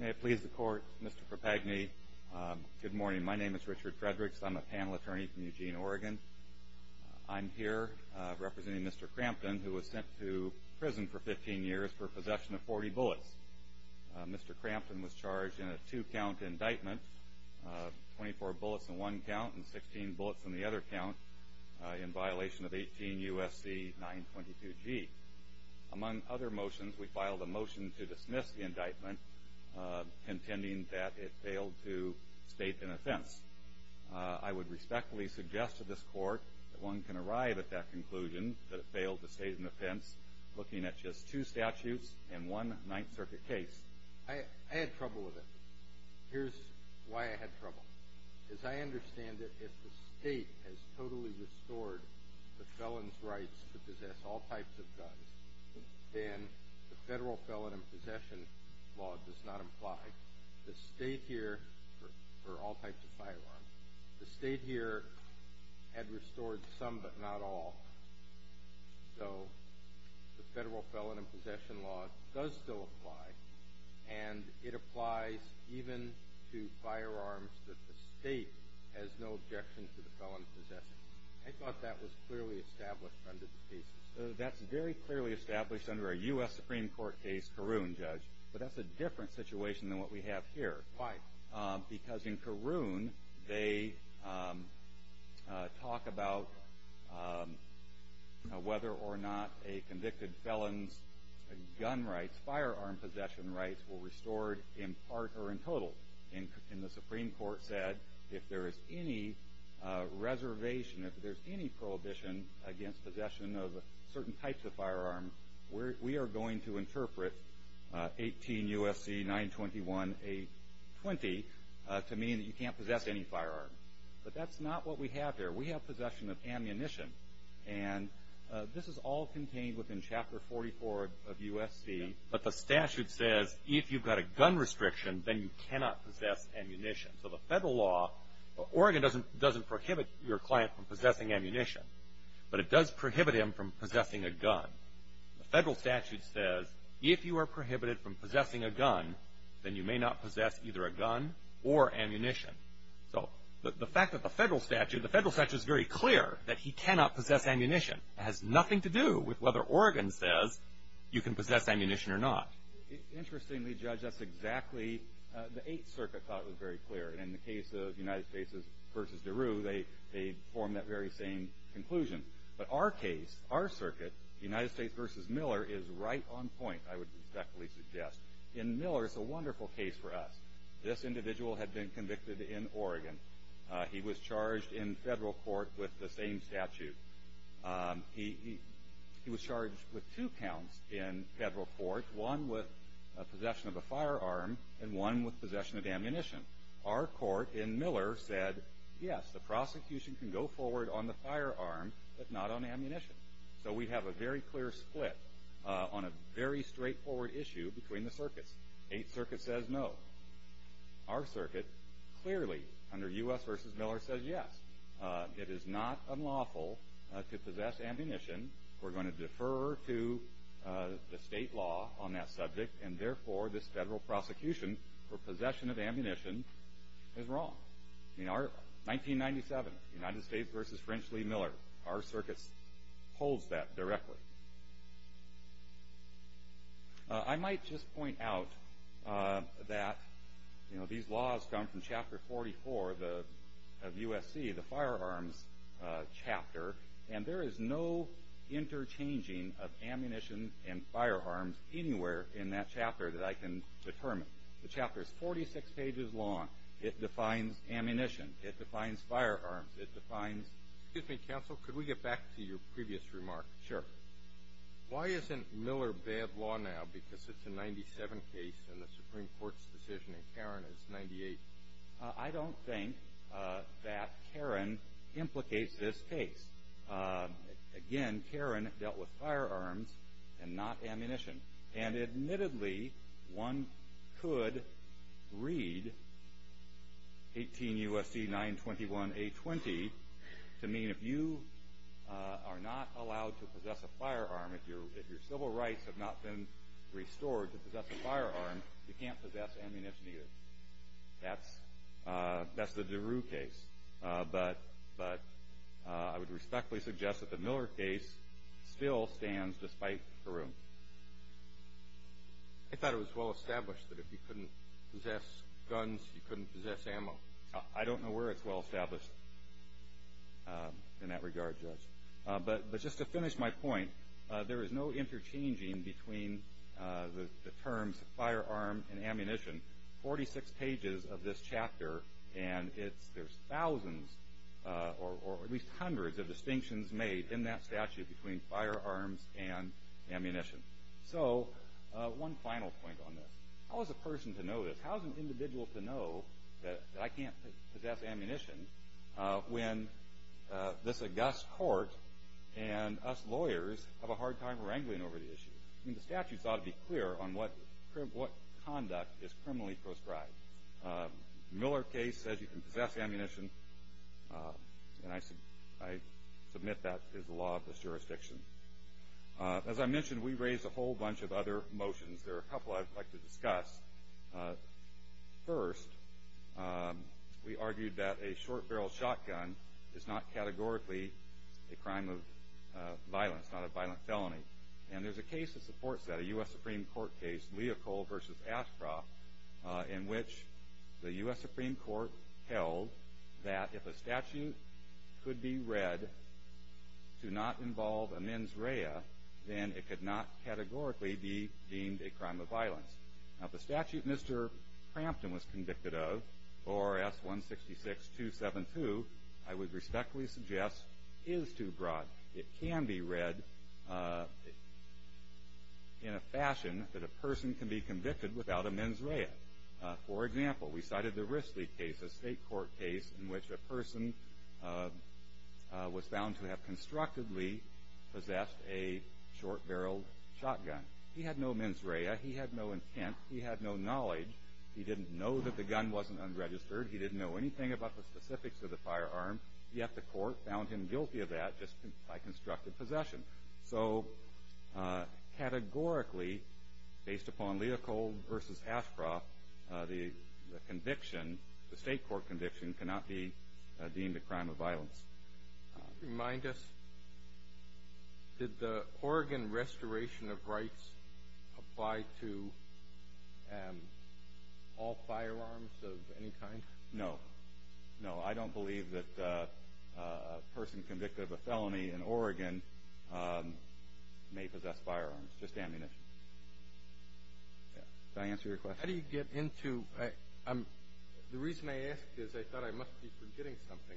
May it please the court, Mr. Propagni, good morning. My name is Richard Fredericks. I'm a panel attorney from Eugene, Oregon. I'm here representing Mr. Crampton, who was sent to prison for 15 years for possession of 40 bullets. Mr. Crampton was charged in a two-count indictment, 24 bullets in one count and 16 bullets in the other count, in violation of 18 U.S.C. 922G. Among other motions, we filed a motion to dismiss the indictment contending that it failed to state an offense. I would respectfully suggest to this court that one can arrive at that conclusion, that it failed to state an offense, looking at just two statutes and one Ninth Circuit case. I had trouble with it. Here's why I had trouble. As I understand it, if the state has totally restored the felon's rights to possess all types of guns, then the Federal Felon in Possession Law does not apply. The state here, for all types of firearms, the state here had restored some but not all. So the Federal Felon in Possession Law does still apply, and it applies even to firearms that the state has no right to object to the felon's possession. I thought that was clearly established under the cases. That's very clearly established under a U.S. Supreme Court case, Caroon, Judge, but that's a different situation than what we have here. Why? Because in Caroon, they talk about whether or not a convicted felon's gun rights, firearm possession rights, were restored in part or not. The Supreme Court said if there is any reservation, if there's any prohibition against possession of certain types of firearms, we are going to interpret 18 U.S.C. 921-820 to mean that you can't possess any firearms. But that's not what we have here. We have possession of ammunition, and this is all contained within Chapter 44 of U.S.C. 921-820, but the statute says if you've got a gun restriction, then you cannot possess ammunition. So the Federal law, Oregon doesn't prohibit your client from possessing ammunition, but it does prohibit him from possessing a gun. The Federal statute says if you are prohibited from possessing a gun, then you may not possess either a gun or ammunition. So the fact that the Federal statute, the Federal statute is very clear that he cannot possess ammunition. It has nothing to do with whether Oregon says you can possess ammunition or not. Interestingly, Judge, that's exactly, the Eighth Circuit thought it was very clear, and in the case of United States v. DeRue, they formed that very same conclusion. But our case, our circuit, United States v. Miller, is right on point, I would respectfully suggest. In Miller, it's a wonderful case for us. This individual had been convicted in Oregon. He was charged in Federal court with the same statute. He was charged with two counts in Federal court, one with possession of a firearm and one with possession of ammunition. Our court in Miller said, yes, the prosecution can go forward on the firearm, but not on ammunition. So we have a very clear split on a very straightforward issue between the circuits. Eighth Circuit says no. Our circuit clearly, under U.S. v. Miller, says yes. It is not unlawful to possess ammunition. We're going to defer to the state law on that subject, and therefore, this Federal prosecution for possession of ammunition is wrong. In our 1997, United States v. French Lee Miller, our circuit holds that directly. I might just point out that, you know, these laws come from Chapter 44 of USC, the firearms chapter, and there is no interchanging of ammunition and firearms anywhere in that chapter that I can determine. The chapter is 46 pages long. It defines ammunition. It defines firearms. It defines... Excuse me, counsel. Could we get back to your previous remark? Sure. Why isn't Miller bad law now? Because it's a 97 case and the Supreme Court's decision in Karen is 98. I don't think that Karen implicates this case. Again, Karen dealt with firearms and not ammunition. And admittedly, one could read 18 U.S.C. 921-A20 to mean if you are not allowed to possess a firearm, if your civil rights have not been restored to possess a firearm, you can't possess ammunition either. That's the DeRue case. But I would respectfully suggest that the Miller case still stands despite DeRue. I thought it was well established that if you couldn't possess guns, you couldn't possess ammo. I don't know where it's well established in that regard, Judge. But just to finish my point, there is no interchanging between the terms firearm and ammunition. 46 pages of this chapter and there's thousands or at least hundreds of distinctions made in that statute between firearms and ammunition. So one final point on this. How is a person to know this? How is an individual to know that I can't possess ammunition when this august court and us lawyers have a hard time wrangling over the issue? I mean, the statute ought to be clear on what conduct is criminally proscribed. Miller case says you can possess ammunition and I submit that is the law of this jurisdiction. As I mentioned, we raised a whole bunch of other motions. There are a couple I'd like to discuss. First, we argued that a short-barrel shotgun is not categorically a crime of violence, not a violent felony. And there's a case that supports that, a U.S. Supreme Court case, Leopold v. Ashcroft, in which the U.S. Supreme Court held that if a statute could be read to not involve a mens rea, then it could not categorically be deemed a crime of violence. Now the statute Mr. Crampton was convicted of, ORS 166-272, I would respectfully suggest is too broad. It can be read in a fashion that a person can be convicted without a mens rea. For example, we cited the Risley case, a state court case in which a person was found to have constructively possessed a short-barrel shotgun. He had no mens rea, he had no intent, he had no knowledge. He didn't know that the gun wasn't unregistered. He didn't know anything about the specifics of the firearm. Yet the court found him guilty of that just by constructive possession. So categorically, based upon Leopold v. Ashcroft, the conviction, the state court conviction, cannot be deemed a crime of violence. Remind us, did the Oregon restoration of rights apply to all firearms of any kind? No. No, I don't believe that a person convicted of a felony in Oregon may possess firearms, just ammunition. Did I answer your question? How do you get into, the reason I asked is I thought I must be forgetting something.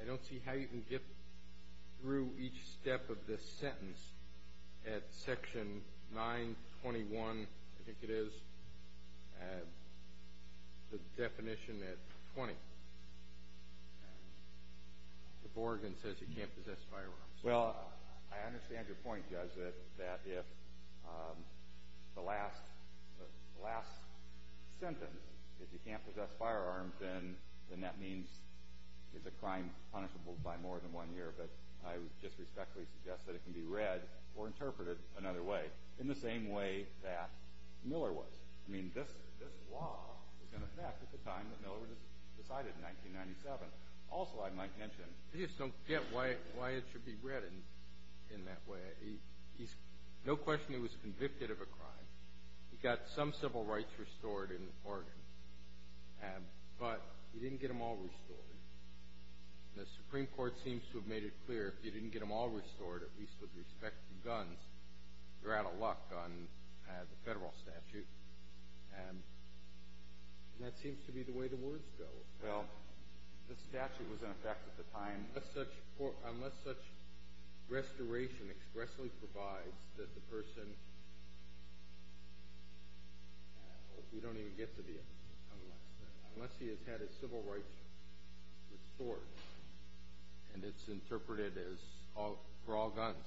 I don't see how you can get through each step of this sentence at section 921, I think it is, the definition at 20. Oregon says you can't possess firearms. Well, I understand your point, Judge, that if the last sentence, if you can't possess firearms, then that means it's a crime punishable by more than one year, but I would just respectfully suggest that it can be read or interpreted another way, in the same way that Miller was. I mean, this law was in effect at the time that Miller was decided in 1997. Also, I might mention, I just don't get why it should be read in that way. He's, no question he was convicted of a crime. He got some civil rights restored in Oregon, but he didn't get them all restored. The Supreme Court seems to have made it clear, if you didn't get them all restored, at least with respect to guns, you're out of luck on the federal statute. And that seems to be the way the words go. Well, the statute was in effect at the time. Unless such restoration expressly provides that the person, we don't even get to the, unless he has had his civil rights restored, and it's interpreted as for all guns,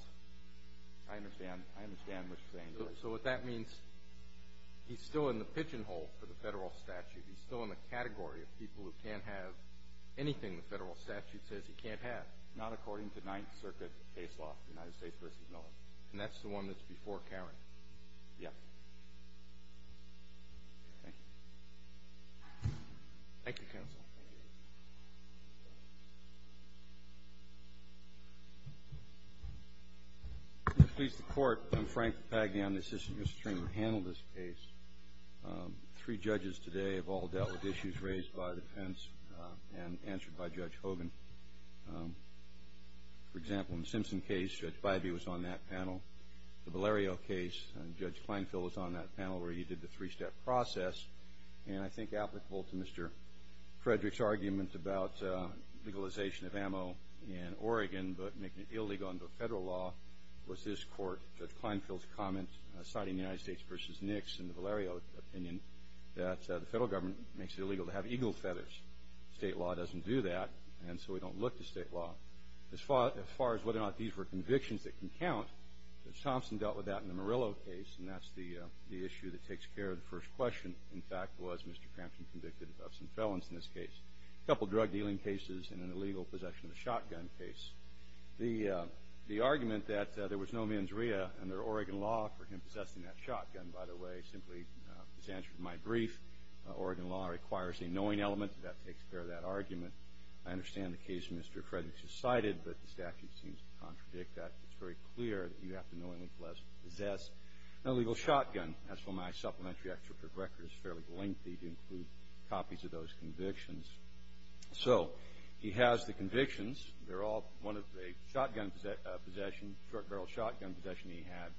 I understand what you're saying. So what that means, he's still in the pigeonhole for the federal statute. He's still in the category of people who can't have anything the federal statute says he can't have. Not according to Ninth Circuit case law, United States v. Miller. And that's the one that's before Karen. Yeah. Thank you. Thank you, counsel. Thank you. Mr. Police, the Court. I'm Frank Papagni. I'm the assistant. Mr. Stringham handled this case. Three judges today have all dealt with issues raised by defense and answered by Judge Hogan. For example, in the Simpson case, Judge Bybee was on that panel. The Valerio case, Judge Kleinfeld was on that panel where he did the three-step process. And I think applicable to Mr. Frederick's argument about legalization of ammo in Oregon, but making it illegal under federal law, was this Court, Judge Kleinfeld's comment, citing United States v. Nix in the Valerio opinion, that the federal government makes it illegal to have eagle feathers. State law doesn't do that, and so we don't look to state law. As far as whether or not these were convictions that can count, Judge Thompson dealt with that in the Murillo case, and that's the issue that takes care of the first question, in fact, was Mr. Crampton convicted of some felons in this case? A couple drug-dealing cases and an illegal possession of a shotgun case. The argument that there was no mens rea under Oregon law for him possessing that shotgun, by the way, simply is answered in my brief. Oregon law requires a knowing element. That takes care of that argument. I understand the case Mr. Frederick just cited, but the statute seems to contradict that. It's very clear that you have to knowingly possess an illegal shotgun. As for my supplementary extrict record, it's fairly lengthy to include copies of those convictions. So he has the convictions. They're all one of a shotgun possession, short-barrel shotgun possession he had.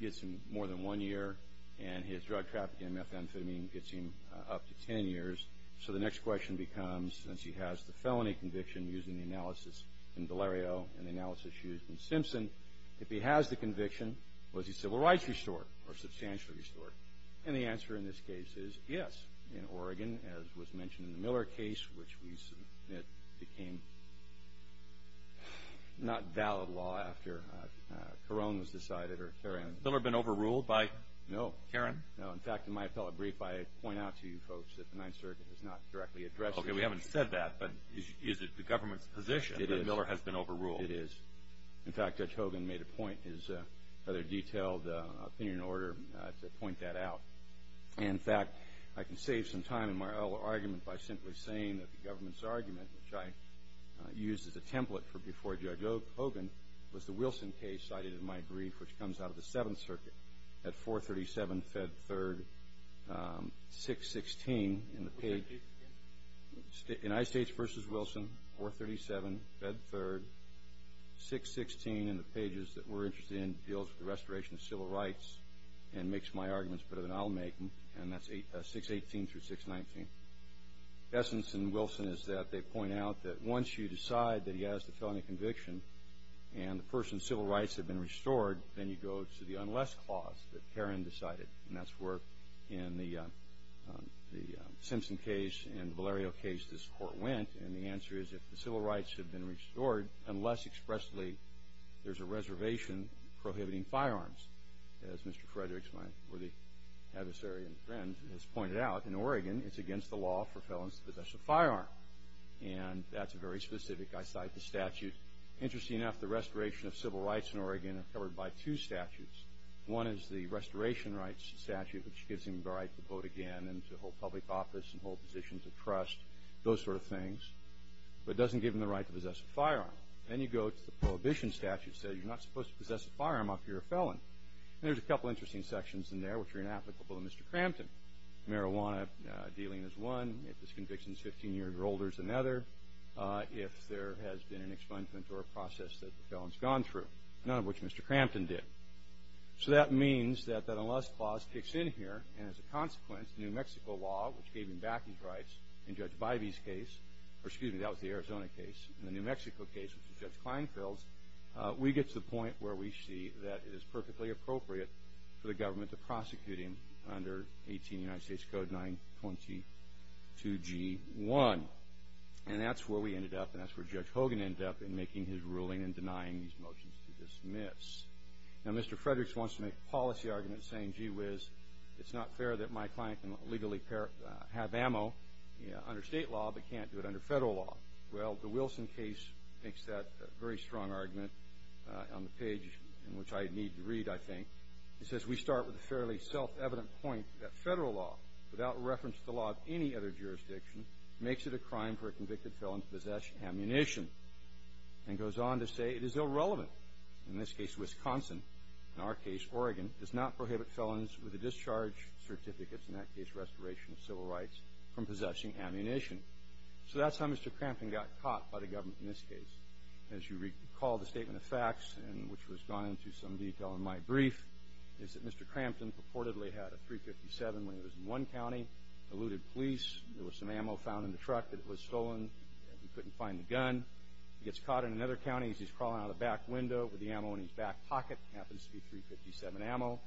Gets him more than one year, and his drug trafficking methamphetamine gets him up to 10 years. So the next question becomes, since he has the felony conviction used in the analysis in Delario and the analysis used in Simpson, if he has the conviction, was his civil rights restored or substantially restored? And the answer in this case is yes. In Oregon, as was mentioned in the Miller case, which we submit became not valid law after Carone was decided or Caron. Miller been overruled by? No. Caron? No. In fact, in my appellate brief, I point out to you folks that the Ninth Circuit has not directly addressed. Okay. We haven't said that, but is it the government's position that Miller has been overruled? It is. In fact, Judge Hogan made a point in his rather detailed opinion order to point that out. In fact, I can save some time in my argument by simply saying that the government's argument, which I used as a template for before Judge Hogan, was the Wilson case cited in my brief, which comes out of the Seventh Circuit at 437 Fed 3rd, 616 in the page. United States v. Wilson, 437 Fed 3rd, 616 in the pages that we're interested in deals with and that's 618 through 619. Essence in Wilson is that they point out that once you decide that he has the felony conviction and the person's civil rights have been restored, then you go to the unless clause that Caron decided, and that's where in the Simpson case and the Valerio case this Court went, and the answer is if the civil rights have been restored unless expressly there's a reservation prohibiting firearms. As Mr. Fredericks, my worthy adversary and friend, has pointed out, in Oregon it's against the law for felons to possess a firearm, and that's very specific. I cite the statute. Interesting enough, the restoration of civil rights in Oregon are covered by two statutes. One is the restoration rights statute, which gives him the right to vote again and to hold public office and hold positions of trust, those sort of things, but doesn't give him the right to possess a firearm. Then you go to the prohibition statute that says you're not supposed to possess a firearm if you're a felon, and there's a couple interesting sections in there which are inapplicable to Mr. Crampton. Marijuana dealing is one. If this conviction is 15 years or older, it's another. If there has been an expungement or a process that the felon's gone through, none of which Mr. Crampton did. So that means that that unless clause kicks in here, and as a consequence, the New Mexico law, which gave him back his rights in Judge Bivey's case, or excuse me, that was the Arizona case, and the New Mexico case, which is Judge Kleinfeld's, we get to the point where we see that it is perfectly appropriate for the government to prosecute him under 18 United States Code 922G1. And that's where we ended up, and that's where Judge Hogan ended up in making his ruling and denying these motions to dismiss. Now, Mr. Fredericks wants to make a policy argument saying, gee whiz, it's not fair that my client can legally have ammo under state law but can't do it under federal law. Well, the Wilson case makes that very strong argument on the page in which I need to read, I think. It says, we start with a fairly self-evident point that federal law, without reference to the law of any other jurisdiction, makes it a crime for a convicted felon to possess ammunition, and goes on to say it is irrelevant. In this case, Wisconsin. In our case, Oregon, does not prohibit felons with a discharge certificate, in that case restoration of civil rights, from possessing ammunition. So that's how Mr. Crampton got caught by the government in this case. As you recall the statement of facts, and which was gone into some detail in my brief, is that Mr. Crampton purportedly had a .357 when he was in one county, eluded police, there was some ammo found in the truck that was stolen, and we couldn't find the gun. He gets caught in another county as he's crawling out of the back window with the ammo in his back pocket, happens to be .357 ammo.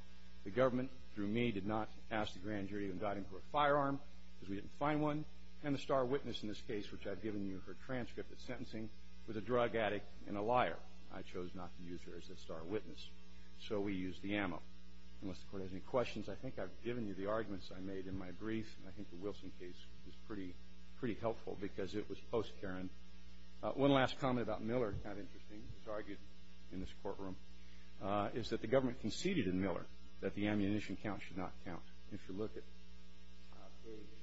The government, through me, did not ask the grand jury to indict him for a firearm because we didn't find one, and the star witness in this case, which I've given you her transcript of sentencing, was a drug addict and a liar. I chose not to use her as a star witness. So we used the ammo. Unless the court has any questions, I think I've given you the arguments I made in my brief, and I think the Wilson case was pretty helpful because it was post Karen. One last comment about Miller, kind of interesting, it's argued in this courtroom, is that the government conceded in Miller that the ammunition count should not count. If you look at page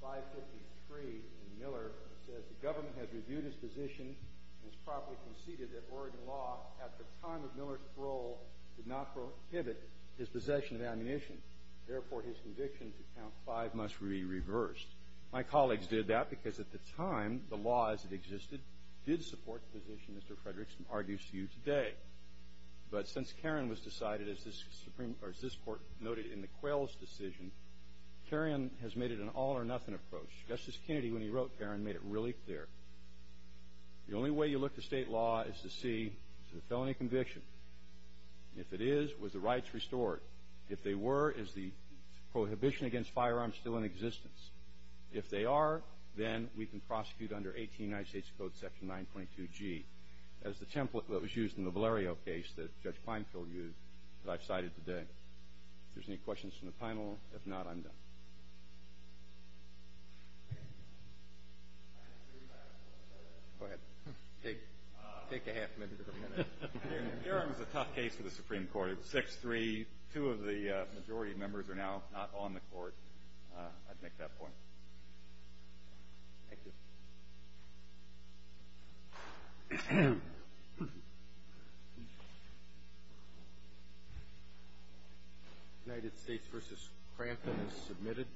553 in Miller, it says, the government has reviewed his position and has promptly conceded that Oregon law, at the time of Miller's parole, did not prohibit his possession of ammunition. Therefore, his conviction to count five must be reversed. My colleagues did that because at the time, the law as it existed did support the position Mr. Frederickson argues to you today. But since Karen was decided, as this court noted in the Quayle's decision, Karen has made it an all or nothing approach. Justice Kennedy, when he wrote Karen, made it really clear. The only way you look to state law is to see, is it a felony conviction? If it is, was the rights restored? If they were, is the prohibition against firearms still in existence? If they are, then we can prosecute under 18 United States Code, Section 922G. That is the template that was used in the Valerio case that Judge Feinfeld used that I've cited today. If there's any questions from the panel, if not, I'm done. Go ahead. Take a half minute or a minute. Karen was a tough case for the Supreme Court. It was 6-3. Two of the majority members are now not on the court. I'd make that point. Thank you. United States v. Crantham is submitted.